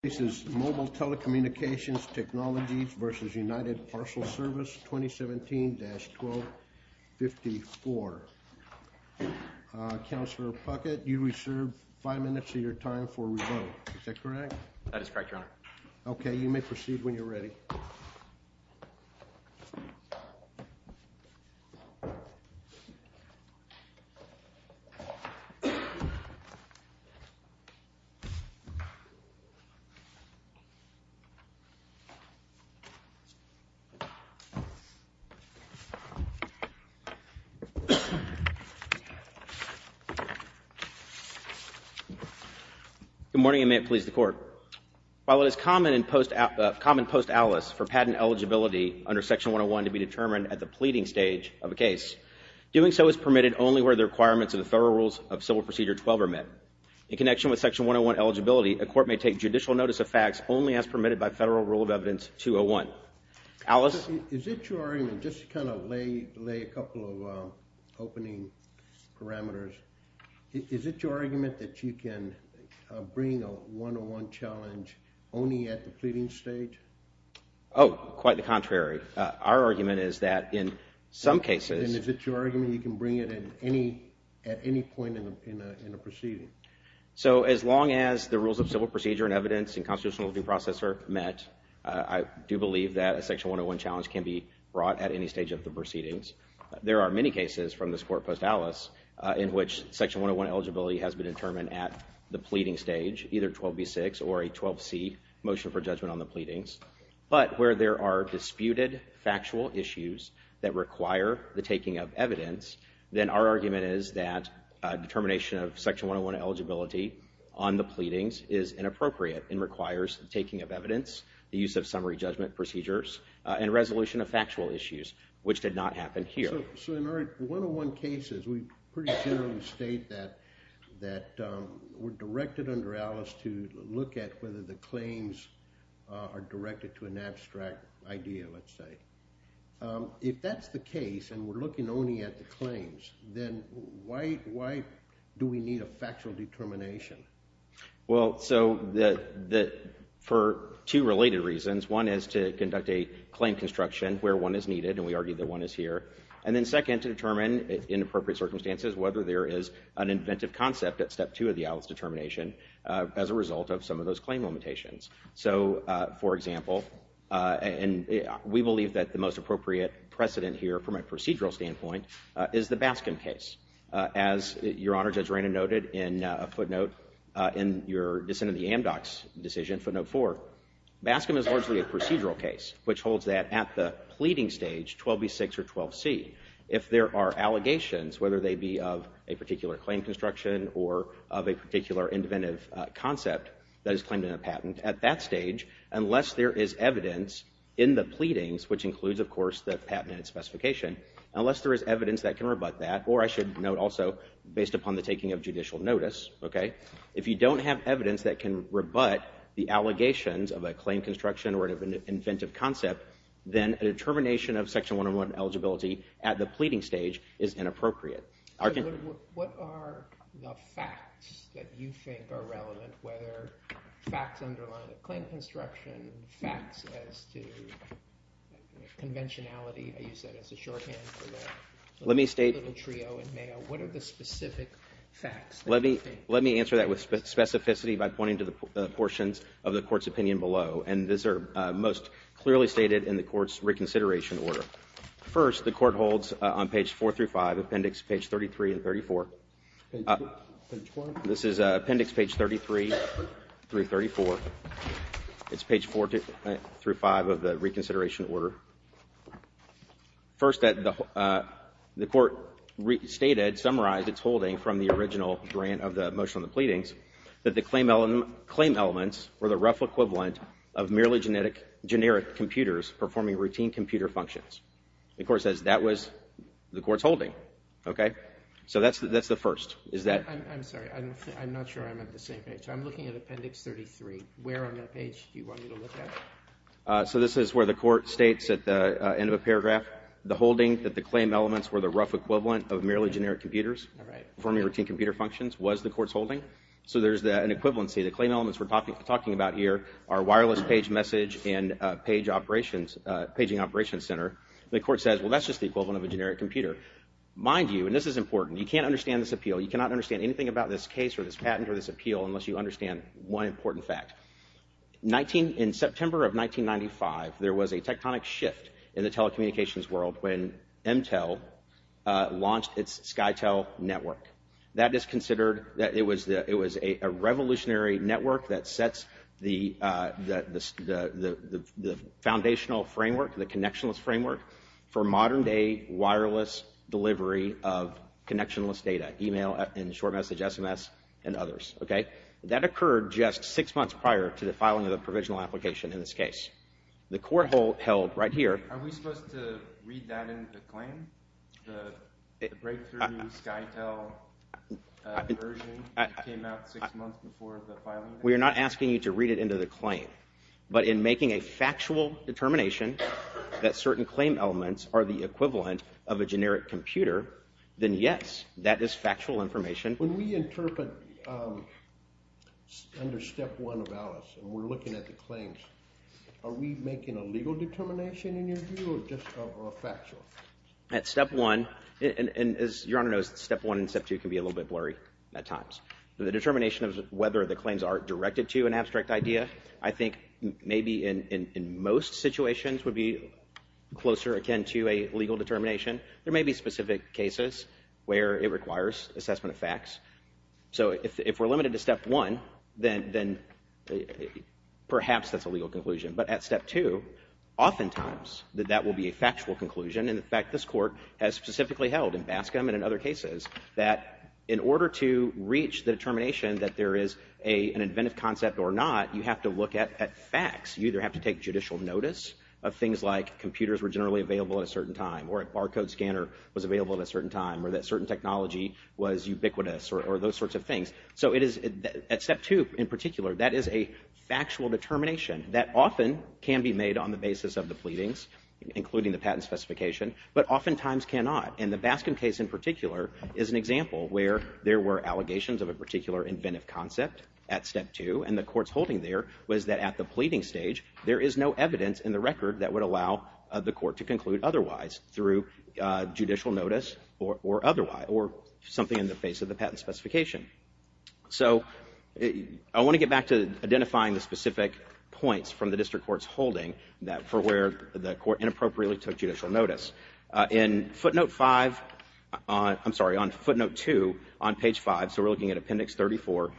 This is Mobile Telecommunications Technologies v. United Parcel Service 2017-1254. Councilor Puckett, you reserve five minutes of your time for revote. Is that correct? That is correct, Your Honor. Okay, you may proceed when you're ready. Good morning, and may it please the Court. While it is common post-alice for patent eligibility under Section 101 to be determined at the pleading stage of a case, doing so is permitted only where the requirements of the Thorough Rules of Civil Procedure 12 are met. In connection with Section 101 eligibility, a court may take judicial notice of facts only as permitted by Federal Rule of Evidence 201. Alice? Is it your argument, just to kind of lay a couple of opening parameters, is it your argument that you can bring a 101 challenge only at the pleading stage? Oh, quite the contrary. Our argument is that in some cases... So as long as the Rules of Civil Procedure and Evidence and Constitutional Review Process are met, I do believe that a Section 101 challenge can be brought at any stage of the proceedings. There are many cases from this Court post-alice in which Section 101 eligibility has been determined at the pleading stage, either 12b6 or a 12c motion for judgment on the pleadings. But where there are disputed factual issues that require the taking of evidence, then our argument is that determination of Section 101 eligibility on the pleadings is inappropriate and requires the taking of evidence, the use of summary judgment procedures, and resolution of factual issues, which did not happen here. So in our 101 cases, we pretty generally state that we're directed under Alice to look at whether the claims are directed to an abstract idea, let's say. If that's the case and we're looking only at the claims, then why do we need a factual determination? Well, so for two related reasons. One is to conduct a claim construction where one is needed, and we argue that one is here. And then second, to determine in appropriate circumstances whether there is an inventive concept at Step 2 of the Alice determination as a result of some of those claim limitations. So, for example, and we believe that the most appropriate precedent here from a procedural standpoint is the Baskin case. As Your Honor, Judge Reyna noted in a footnote in your dissent in the Amdocs decision, footnote 4, Baskin is largely a procedural case, which holds that at the pleading stage, 12b6 or 12c, if there are allegations, whether they be of a particular claim construction or of a particular inventive concept that is claimed in a patent, at that stage, unless there is evidence in the pleadings, which includes, of course, the patent and its specification, unless there is evidence that can rebut that, or I should note also, based upon the taking of judicial notice, if you don't have evidence that can rebut the allegations of a claim construction or an inventive concept, then a determination of Section 101 eligibility at the pleading stage is inappropriate. What are the facts that you think are relevant, whether facts underlying a claim construction, facts as to conventionality, you said as a shorthand for the little trio in Mayo, what are the specific facts that you think? Let me answer that with specificity by pointing to the portions of the Court's opinion below, and these are most clearly stated in the Court's reconsideration order. First, the Court holds on page 4 through 5, appendix page 33 and 34. This is appendix page 33 through 34. It's page 4 through 5 of the reconsideration order. First, the Court stated, summarized its holding from the original grant of the motion of the pleadings, that the claim elements were the rough equivalent of merely generic computers performing routine computer functions. The Court says that was the Court's holding. Okay? So that's the first. I'm sorry. I'm not sure I'm at the same page. I'm looking at appendix 33. Where on that page do you want me to look at? So this is where the Court states at the end of a paragraph, the holding that the claim elements were the rough equivalent of merely generic computers performing routine computer functions was the Court's holding. So there's an equivalency. The claim elements we're talking about here are wireless page message and page operations, paging operations center. The Court says, well, that's just the equivalent of a generic computer. Mind you, and this is important, you can't understand this appeal. You cannot understand anything about this case or this patent or this appeal unless you understand one important fact. In September of 1995, there was a tectonic shift in the telecommunications world when Intel launched its Skytel network. That is considered that it was a revolutionary network that sets the foundational framework, the connectionless framework, for modern-day wireless delivery of connectionless data, e-mail and short message SMS and others. Okay? That occurred just six months prior to the filing of the provisional application in this case. The court held right here. Are we supposed to read that into the claim, the breakthrough Skytel version that came out six months before the filing? We are not asking you to read it into the claim. But in making a factual determination that certain claim elements are the equivalent of a generic computer, then yes, that is factual information. When we interpret under Step 1 of ALICE and we're looking at the claims, are we making a legal determination in your view or just factual? At Step 1, and as Your Honor knows, Step 1 and Step 2 can be a little bit blurry at times. The determination of whether the claims are directed to an abstract idea, I think maybe in most situations would be closer, again, to a legal determination. There may be specific cases where it requires assessment of facts. So if we're limited to Step 1, then perhaps that's a legal conclusion. But at Step 2, oftentimes that will be a factual conclusion. And, in fact, this court has specifically held in Bascom and in other cases that in order to reach the determination that there is an inventive concept or not, you have to look at facts. You either have to take judicial notice of things like computers were generally available at a certain time or a barcode scanner was available at a certain time or that certain technology was ubiquitous or those sorts of things. So at Step 2 in particular, that is a factual determination that often can be made on the basis of the pleadings, including the patent specification, but oftentimes cannot. And the Bascom case in particular is an example where there were allegations of a particular inventive concept at Step 2, and the court's holding there was that at the pleading stage, there is no evidence in the record that would allow the court to conclude otherwise through judicial notice or something in the face of the patent specification. So I want to get back to identifying the specific points from the district court's holding for where the court inappropriately took judicial notice. In footnote 5, I'm sorry, on footnote 2 on page 5, so we're looking at appendix 34,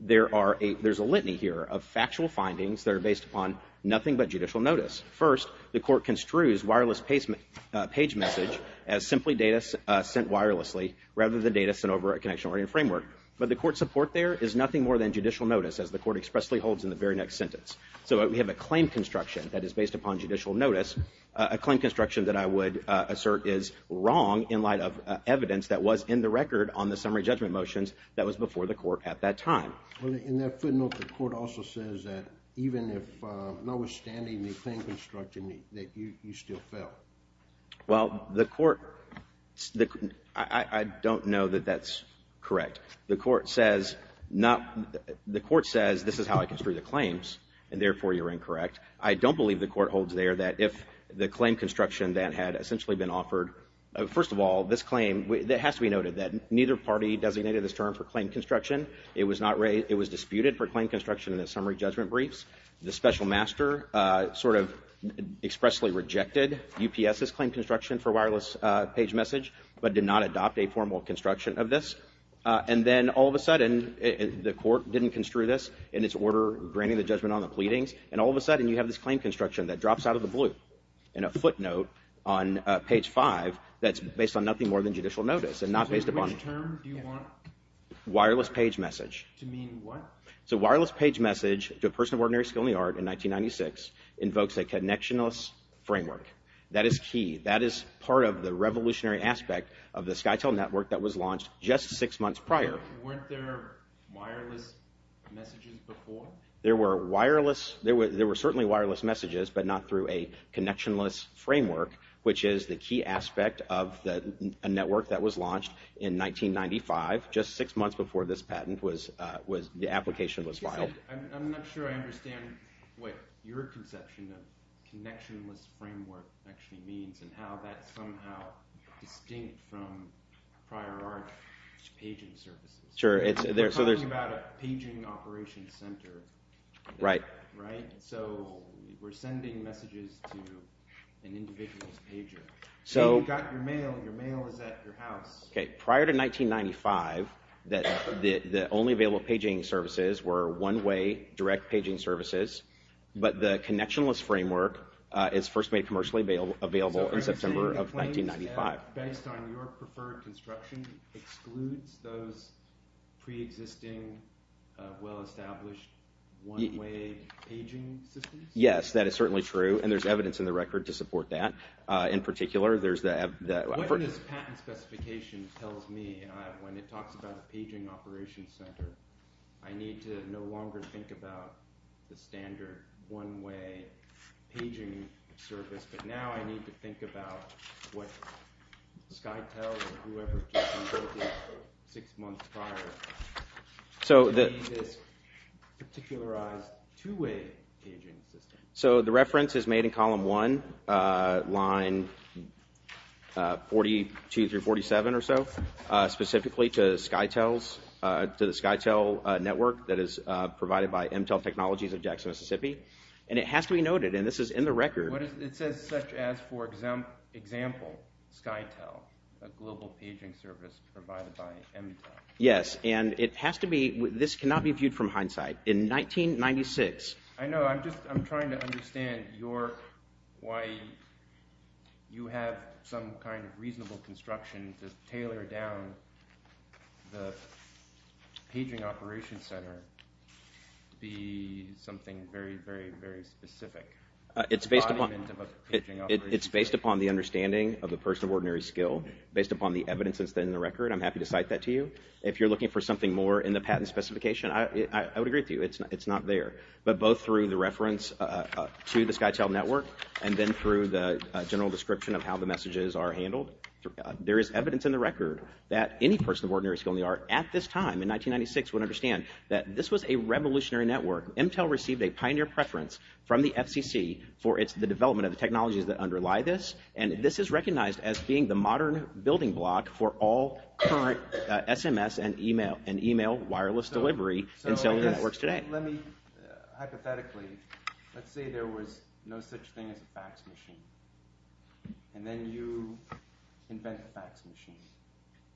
there's a litany here of factual findings that are based upon nothing but judicial notice. First, the court construes wireless page message as simply data sent wirelessly rather than data sent over a connection-oriented framework. But the court's support there is nothing more than judicial notice, as the court expressly holds in the very next sentence. So we have a claim construction that is based upon judicial notice, a claim construction that I would assert is wrong in light of evidence that was in the record on the summary judgment motions that was before the court at that time. In that footnote, the court also says that even if notwithstanding the claim construction, that you still fail. Well, the court, I don't know that that's correct. The court says this is how I construe the claims, and therefore you're incorrect. I don't believe the court holds there that if the claim construction that had essentially been offered, first of all, this claim, it has to be noted that neither party designated this term for claim construction. It was disputed for claim construction in the summary judgment briefs. The special master sort of expressly rejected UPS's claim construction for wireless page message but did not adopt a formal construction of this. And then all of a sudden, the court didn't construe this in its order, granting the judgment on the pleadings, and all of a sudden you have this claim construction that drops out of the blue in a footnote on page 5 that's based on nothing more than judicial notice and not based upon... Which term do you want? Wireless page message. To mean what? So wireless page message to a person of ordinary skill in the art in 1996 invokes a connectionless framework. That is key. That is part of the revolutionary aspect of the SkyTel network that was launched just six months prior. Weren't there wireless messages before? There were certainly wireless messages but not through a connectionless framework, which is the key aspect of a network that was launched in 1995, just six months before this patent, the application was filed. I'm not sure I understand what your conception of connectionless framework actually means and how that's somehow distinct from prior art paging services. We're talking about a paging operation center, right? So we're sending messages to an individual's pager. You've got your mail, your mail is at your house. Prior to 1995, the only available paging services were one-way direct paging services, but the connectionless framework is first made commercially available in September of 1995. Based on your preferred construction, it excludes those preexisting well-established one-way paging systems? Yes, that is certainly true, and there's evidence in the record to support that. In particular, there's the… What this patent specification tells me when it talks about a paging operation center, I need to no longer think about the standard one-way paging service, but now I need to think about what Skytel or whoever came up with it six months prior. So this particularized two-way paging system. So the reference is made in column one, line 42 through 47 or so, specifically to the Skytel network that is provided by Emtel Technologies of Jackson, Mississippi, and it has to be noted, and this is in the record. It says such as for example, Skytel, a global paging service provided by Emtel. Yes, and it has to be – this cannot be viewed from hindsight. In 1996… I know, I'm just trying to understand why you have some kind of reasonable construction to tailor down the paging operation center to be something very, very, very specific. It's based upon the understanding of the person of ordinary skill, based upon the evidence that's in the record. I'm happy to cite that to you. If you're looking for something more in the patent specification, I would agree with you. It's not there. But both through the reference to the Skytel network and then through the general description of how the messages are handled, there is evidence in the record that any person of ordinary skill in the art at this time in 1996 would understand that this was a revolutionary network. Emtel received a pioneer preference from the FCC for the development of the technologies that underlie this, and this is recognized as being the modern building block for all current SMS and email wireless delivery in cellular networks today. Hypothetically, let's say there was no such thing as a fax machine, and then you invent fax machines.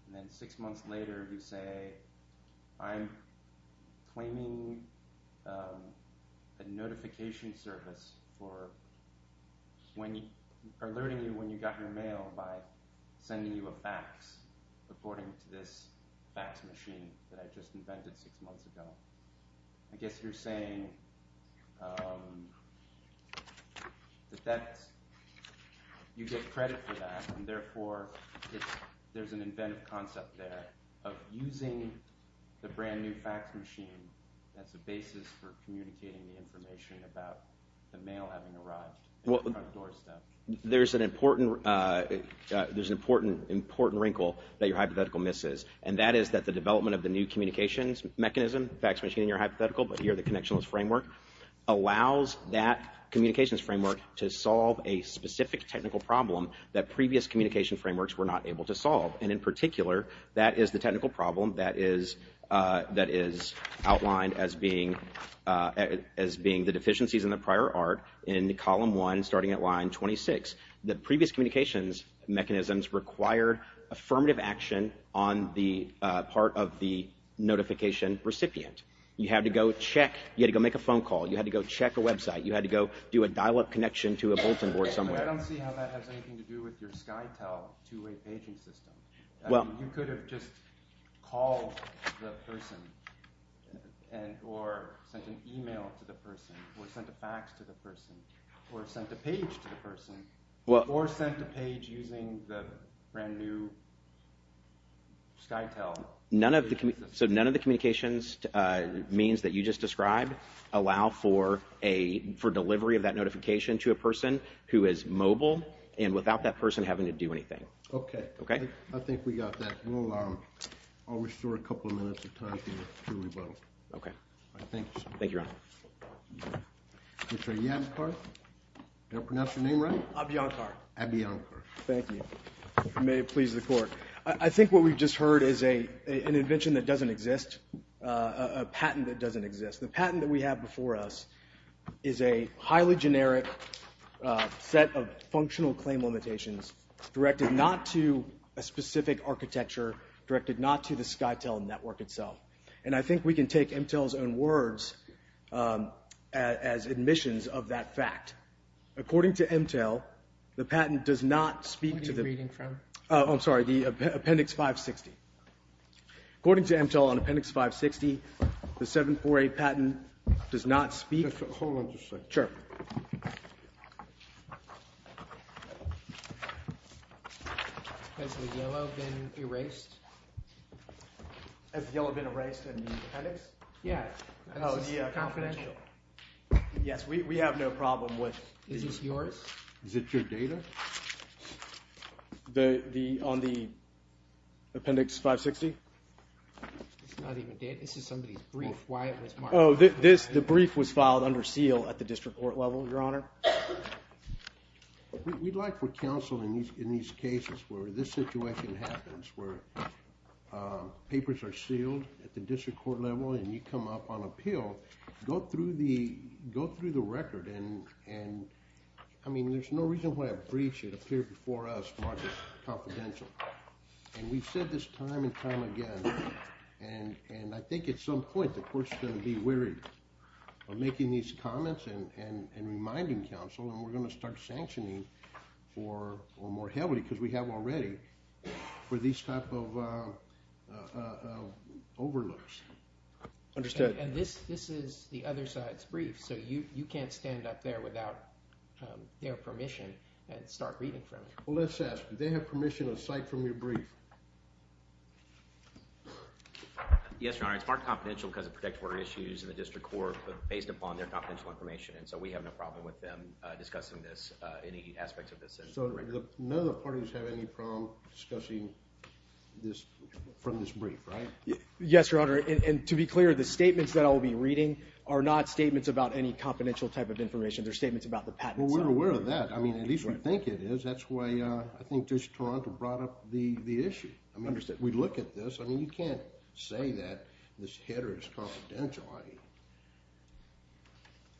And then six months later you say, I'm claiming a notification service for alerting you when you got your mail by sending you a fax according to this fax machine that I just invented six months ago. I guess you're saying that you get credit for that and therefore there's an inventive concept there of using the brand new fax machine as a basis for communicating the information about the mail having arrived at the front doorstep. There's an important wrinkle that your hypothetical misses, and that is that the development of the new communications mechanism, fax machine in your hypothetical, but here the connectionless framework, allows that communications framework to solve a specific technical problem that previous communication frameworks were not able to solve. And in particular, that is the technical problem that is outlined as being the deficiencies in the prior art in column one starting at line 26. The previous communications mechanisms require affirmative action on the part of the notification recipient. You had to go check, you had to go make a phone call, you had to go check a website, you had to go do a dial-up connection to a bulletin board somewhere. I don't see how that has anything to do with your SkyTel two-way paging system. You could have just called the person, or sent an email to the person, or sent a fax to the person, or sent a page to the person, or sent a page using the brand new SkyTel. So none of the communications means that you just described allow for delivery of that notification to a person who is mobile and without that person having to do anything. Okay. Okay? I think we got that. I'll restore a couple of minutes of time for your rebuttal. Okay. Thank you, sir. Thank you, Your Honor. Mr. Abhiyankar? Did I pronounce your name right? Abhiyankar. Abhiyankar. Thank you. May it please the Court. I think what we've just heard is an invention that doesn't exist, a patent that doesn't exist. The patent that we have before us is a highly generic set of functional claim limitations directed not to a specific architecture, directed not to the SkyTel network itself. And I think we can take MTEL's own words as admissions of that fact. According to MTEL, the patent does not speak to the – What are you reading from? I'm sorry, the Appendix 560. According to MTEL, on Appendix 560, the 748 patent does not speak – Hold on just a second. Sure. Has the yellow been erased? Has the yellow been erased in the appendix? Yeah. Oh, yeah. It's confidential. Yes, we have no problem with – Is this yours? Is it your data? On the Appendix 560? It's not even data. This is somebody's brief, why it was marked. Oh, the brief was filed under seal at the district court level, Your Honor. We'd like for counsel in these cases where this situation happens, where papers are sealed at the district court level and you come up on appeal, go through the record. I mean, there's no reason why a brief should appear before us marked as confidential. And we've said this time and time again. And I think at some point the court's going to be weary of making these comments and reminding counsel, and we're going to start sanctioning for more heavily, because we have already, for these type of overlooks. Understood. And this is the other side's brief, so you can't stand up there without their permission and start reading from it. Well, let's ask. Do they have permission to cite from your brief? Yes, Your Honor. It's marked confidential because of protect order issues in the district court, but based upon their confidential information. And so we have no problem with them discussing this, any aspects of this. So none of the parties have any problem discussing this from this brief, right? Yes, Your Honor. And to be clear, the statements that I will be reading are not statements about any confidential type of information. They're statements about the patents. Well, we're aware of that. I mean, at least we think it is. That's why I think this Toronto brought up the issue. We look at this. I mean, you can't say that this header is confidential.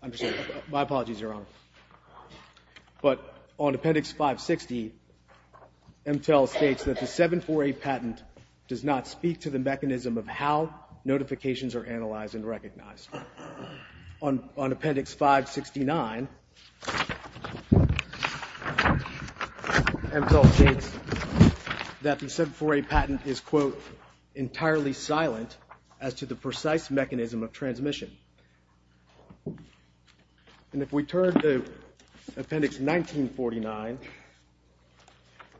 Understood. My apologies, Your Honor. But on Appendix 560, MTEL states that the 748 patent does not speak to the mechanism of how notifications are analyzed and recognized. On Appendix 569, MTEL states that the 748 patent is, quote, And if we turn to Appendix 1949.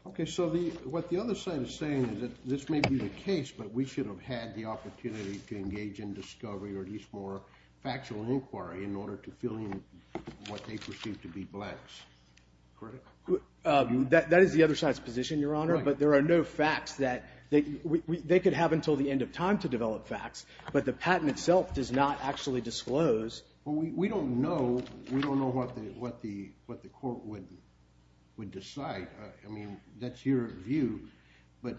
Okay, so what the other side is saying is that this may be the case, but we should have had the opportunity to engage in discovery or at least more factual inquiry in order to fill in what they perceive to be blanks. Correct? That is the other side's position, Your Honor, but there are no facts that they could have until the end of time to develop facts, but the patent itself does not actually disclose. Well, we don't know what the court would decide. I mean, that's your view, but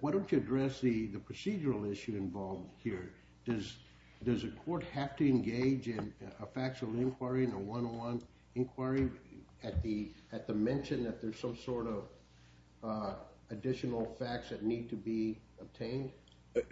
why don't you address the procedural issue involved here? Does a court have to engage in a factual inquiry, in a one-on-one inquiry, at the mention that there's some sort of additional facts that need to be obtained?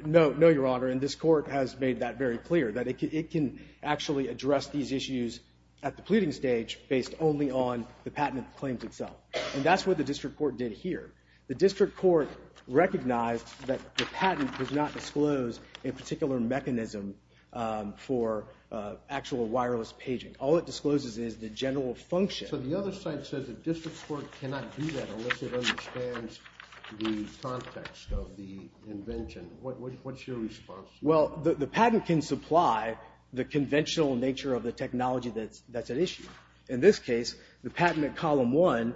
No, no, Your Honor, and this court has made that very clear, that it can actually address these issues at the pleading stage based only on the patent claims itself, and that's what the district court did here. The district court recognized that the patent does not disclose a particular mechanism for actual wireless paging. All it discloses is the general function. So the other side says the district court cannot do that unless it understands the context of the invention. What's your response? Well, the patent can supply the conventional nature of the technology that's at issue. In this case, the patent at Column 1,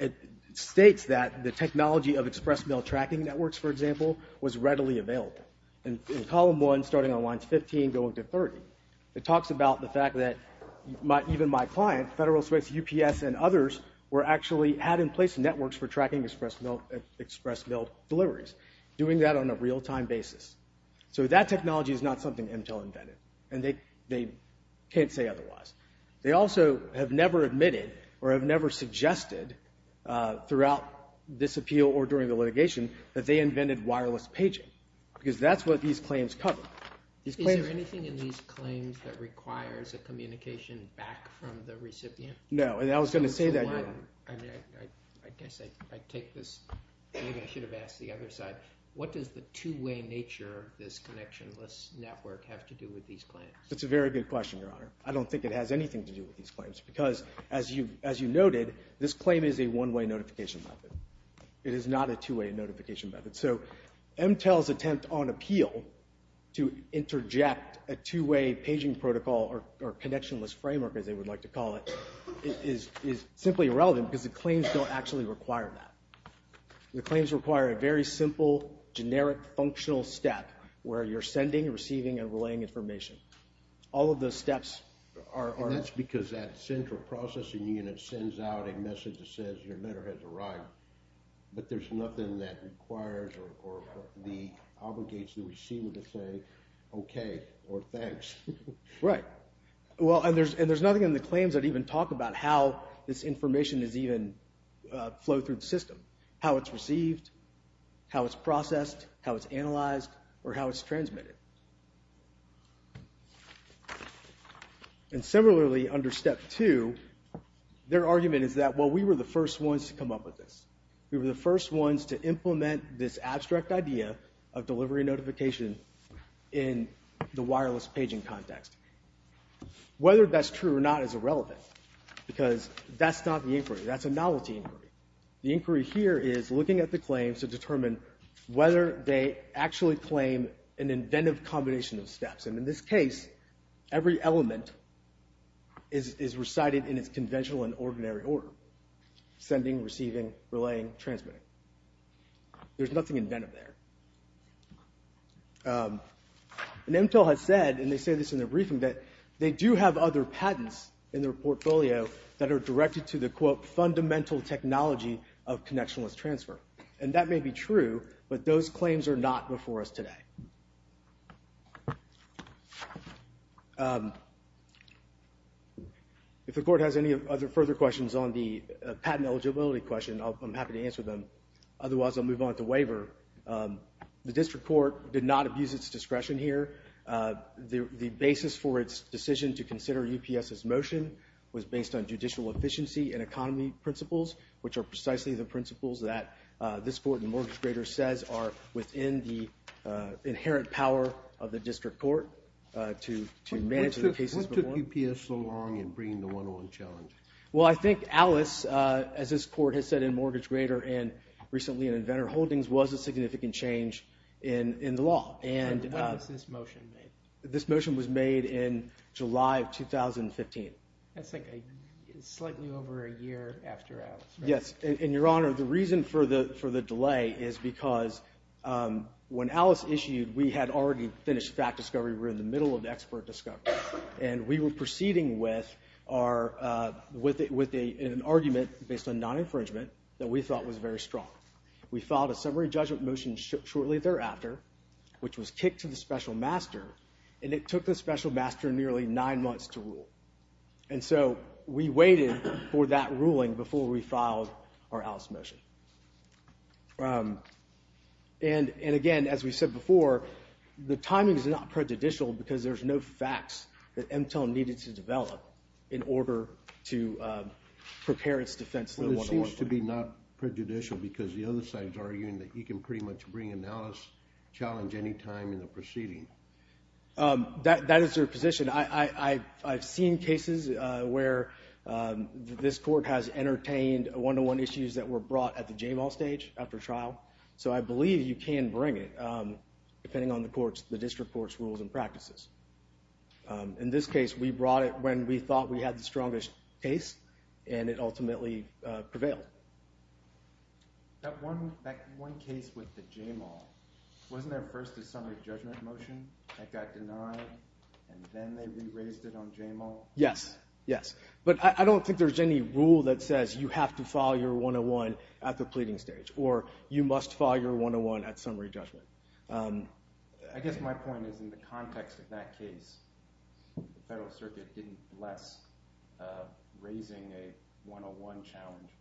it states that the technology of express mail tracking networks, for example, was readily available. In Column 1, starting on lines 15 going to 30, it talks about the fact that even my client, Federal Express, UPS, and others actually had in place networks for tracking express mail deliveries, doing that on a real-time basis. So that technology is not something Intel invented, and they can't say otherwise. They also have never admitted or have never suggested throughout this appeal or during the litigation that they invented wireless paging, because that's what these claims cover. Is there anything in these claims that requires a communication back from the recipient? No, and I was going to say that, Your Honor. I guess I take this. Maybe I should have asked the other side. What does the two-way nature of this connectionless network have to do with these claims? That's a very good question, Your Honor. I don't think it has anything to do with these claims, because as you noted, this claim is a one-way notification method. It is not a two-way notification method. So Intel's attempt on appeal to interject a two-way paging protocol or connectionless framework, as they would like to call it, is simply irrelevant, because the claims don't actually require that. The claims require a very simple, generic, functional step where you're sending, receiving, and relaying information. All of those steps are... And that's because that central processing unit sends out a message that says, your letter has arrived, but there's nothing that requires or obligates the receiver to say, okay, or thanks. Right. Well, and there's nothing in the claims that even talk about how this information is even flowed through the system. How it's received, how it's processed, how it's analyzed, or how it's transmitted. And similarly, under Step 2, their argument is that, well, we were the first ones to come up with this. We were the first ones to implement this abstract idea of delivery notification in the wireless paging context. Whether that's true or not is irrelevant, because that's not the inquiry. That's a novelty inquiry. The inquiry here is looking at the claims to determine whether they actually claim an inventive combination of steps. And in this case, every element is recited in its conventional and ordinary order. Sending, receiving, relaying, transmitting. There's nothing inventive there. And Intel has said, and they say this in their briefing, that they do have other patents in their portfolio that are directed to the, quote, fundamental technology of connectionless transfer. And that may be true, but those claims are not before us today. If the court has any other further questions on the patent eligibility question, I'm happy to answer them. Otherwise, I'll move on to waiver. The district court did not abuse its discretion here. The basis for its decision to consider UPS's motion was based on judicial efficiency and economy principles, which are precisely the principles that this court in Mortgage Grader says are within the inherent power of the district court to manage the cases. What took UPS so long in bringing the one-on challenge? Well, I think Alice, as this court has said in Mortgage Grader and recently in Inventor Holdings, was a significant change in the law. And when was this motion made? This motion was made in July of 2015. That's, like, slightly over a year after Alice, right? Yes, and, Your Honor, the reason for the delay is because when Alice issued, we had already finished fact discovery. We were in the middle of expert discovery. And we were proceeding with an argument based on non-infringement that we thought was very strong. We filed a summary judgment motion shortly thereafter, which was kicked to the special master, and it took the special master nearly nine months to rule. And so we waited for that ruling before we filed our Alice motion. And, again, as we said before, the timing is not prejudicial because there's no facts that MTEL needed to develop in order to prepare its defense. Well, it seems to be not prejudicial because the other side is arguing that you can pretty much bring an Alice challenge any time in the proceeding. That is your position. I've seen cases where this court has entertained one-to-one issues that were brought at the J-ball stage after trial. So I believe you can bring it, depending on the district court's rules and practices. In this case, we brought it when we thought we had the strongest case, and it ultimately prevailed. Yes, yes. But I don't think there's any rule that says you have to file your one-to-one at the pleading stage or you must file your one-to-one at summary judgment. I guess my point is, in the context of that case, the Federal Circuit didn't bless raising a one-to-one challenge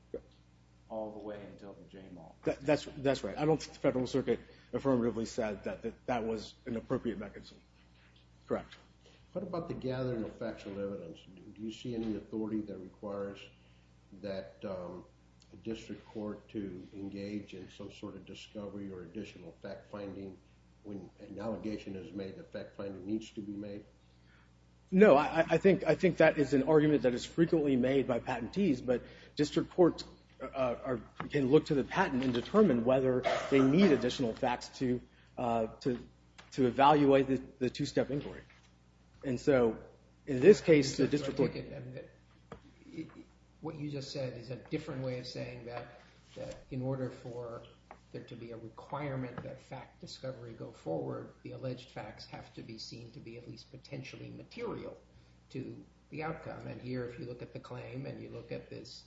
all the way until the J-ball. That's right. I don't think the Federal Circuit affirmatively said that that was an appropriate mechanism. Correct. What about the gathering of factual evidence? Do you see any authority that requires that a district court to engage in some sort of discovery or additional fact-finding when an allegation is made that fact-finding needs to be made? No, I think that is an argument that is frequently made by patentees, but district courts can look to the patent and determine whether they need additional facts to evaluate the two-step inquiry. And so, in this case, the district court... What you just said is a different way of saying that in order for there to be a requirement that fact discovery go forward, the alleged facts have to be seen to be at least potentially material to the outcome. And here, if you look at the claim and you look at this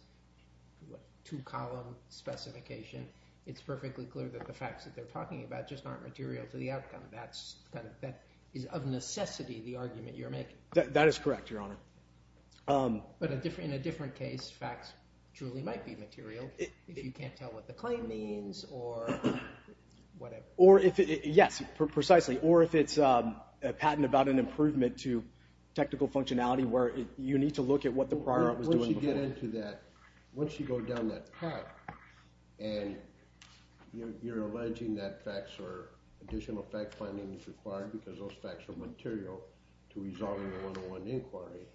two-column specification, it's perfectly clear that the facts that they're talking about just aren't material to the outcome. That is of necessity the argument you're making. That is correct, Your Honor. But in a different case, facts truly might be material if you can't tell what the claim means or whatever. Yes, precisely. Or if it's a patent about an improvement to technical functionality where you need to look at what the prior art was doing before. Once you get into that, once you go down that path and you're alleging that facts or additional fact-finding is required because those facts are material to resolving a one-on-one inquiry,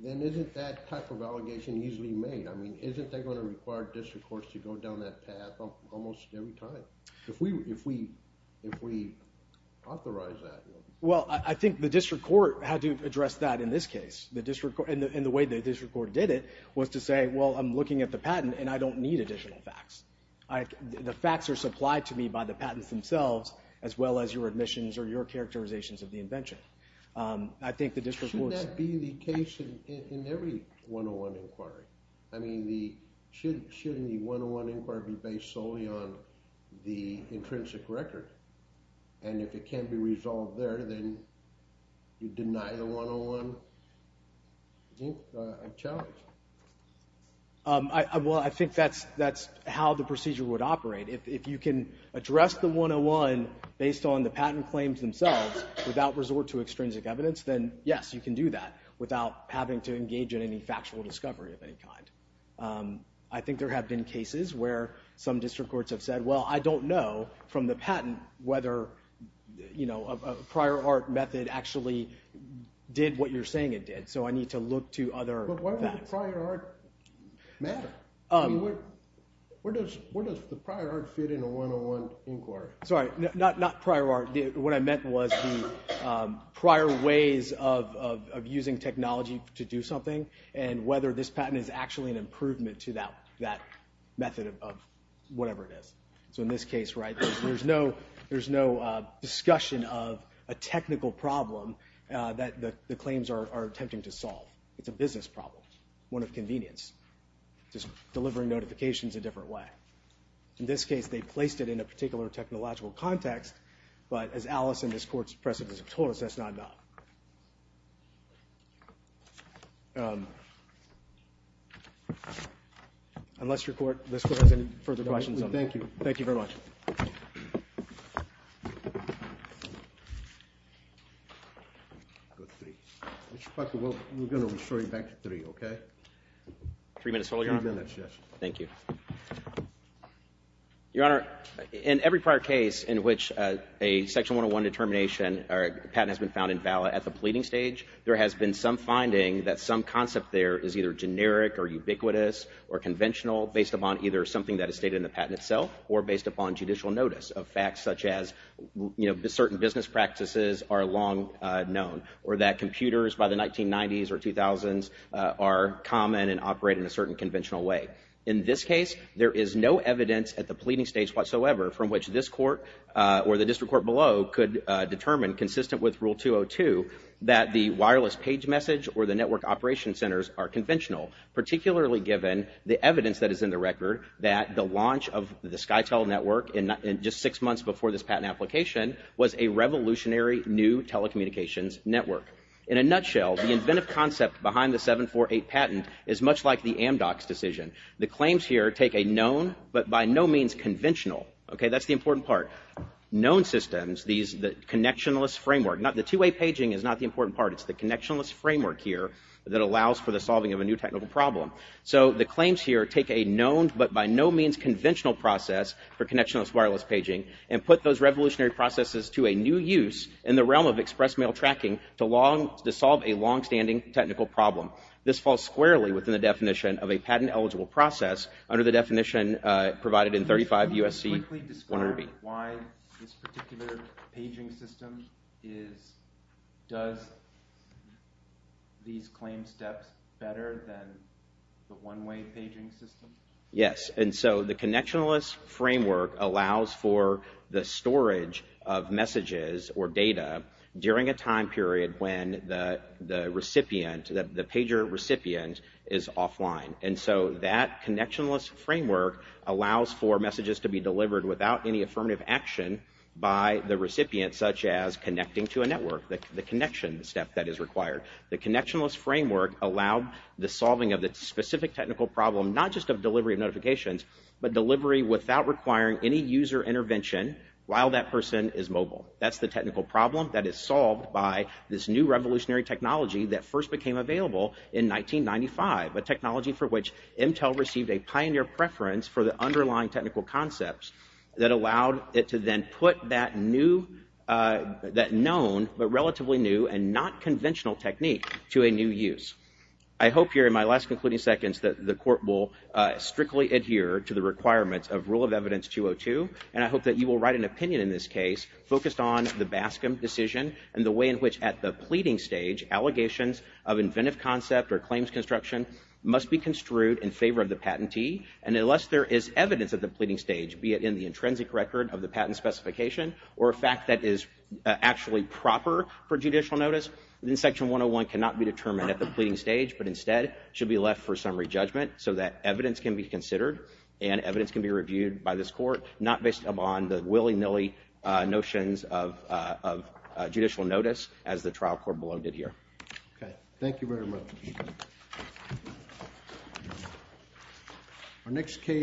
then isn't that type of allegation easily made? I mean, isn't that going to require district courts to go down that path almost every time? If we authorize that. Well, I think the district court had to address that in this case. And the way the district court did it was to say, well, I'm looking at the patent and I don't need additional facts. The facts are supplied to me by the patents themselves as well as your admissions or your characterizations of the invention. Shouldn't that be the case in every one-on-one inquiry? I mean, shouldn't the one-on-one inquiry be based solely on the intrinsic record? And if it can't be resolved there, then you deny the one-on-one challenge. Well, I think that's how the procedure would operate. If you can address the one-on-one based on the patent claims themselves without resort to extrinsic evidence, then yes, you can do that without having to engage in any factual discovery of any kind. I think there have been cases where some district courts have said, well, I don't know from the patent whether a prior art method actually did what you're saying it did, so I need to look to other facts. But why would the prior art matter? I mean, where does the prior art fit in a one-on-one inquiry? Sorry, not prior art. What I meant was the prior ways of using technology to do something and whether this patent is actually an improvement to that method of whatever it is. So in this case, there's no discussion of a technical problem that the claims are attempting to solve. It's a business problem, one of convenience. It's just delivering notifications a different way. In this case, they placed it in a particular technological context, but as Alice in this court's precedent has told us, that's not enough. Unless your court has any further questions on that. Thank you. Thank you very much. Mr. Parker, we're going to refer you back to 3, okay? Three minutes total, Your Honor? Three minutes, yes. Thank you. Your Honor, in every prior case in which a Section 101 determination or patent has been found invalid at the pleading stage, there has been some finding that some concept there is either generic or ubiquitous or conventional based upon either something that is stated in the patent itself or based upon judicial notice of facts such as certain business practices are long known or that computers by the 1990s or 2000s are common and operate in a certain conventional way. In this case, there is no evidence at the pleading stage whatsoever from which this court or the district court below could determine, consistent with Rule 202, that the wireless page message or the network operation centers are conventional, particularly given the evidence that is in the record that the launch of the SkyTel network just six months before this patent application was a revolutionary new telecommunications network. In a nutshell, the inventive concept behind the 748 patent is much like the Amdocs decision. The claims here take a known but by no means conventional, okay? That's the important part. Known systems, the connectionless framework, the two-way paging is not the important part. It's the connectionless framework here that allows for the solving of a new technical problem. So the claims here take a known but by no means conventional process for connectionless wireless paging and put those revolutionary processes to a new use in the realm of express mail tracking to solve a long-standing technical problem. This falls squarely within the definition of a patent-eligible process under the definition provided in 35 U.S.C. 100B. Can you quickly describe why this particular paging system does these claim steps better than the one-way paging system? Yes, and so the connectionless framework allows for the storage of messages or data during a time period when the recipient, the pager recipient, is offline. And so that connectionless framework allows for messages to be delivered without any affirmative action by the recipient, such as connecting to a network, the connection step that is required. The connectionless framework allowed the solving of the specific technical problem not just of delivery of notifications, but delivery without requiring any user intervention while that person is mobile. That's the technical problem that is solved by this new revolutionary technology that first became available in 1995, a technology for which Intel received a pioneer preference for the underlying technical concepts that allowed it to then put that new, that known but relatively new and not conventional technique to a new use. I hope here in my last concluding seconds that the Court will strictly adhere to the requirements of Rule of Evidence 202, and I hope that you will write an opinion in this case focused on the Bascom decision and the way in which at the pleading stage allegations of inventive concept or claims construction must be construed in favor of the patentee. And unless there is evidence at the pleading stage, be it in the intrinsic record of the patent specification or a fact that is actually proper for judicial notice, then Section 101 cannot be determined at the pleading stage, but instead should be left for summary judgment so that evidence can be considered and evidence can be reviewed by this Court, not based upon the willy-nilly notions of judicial notice as the trial court below did here. Okay. Thank you very much.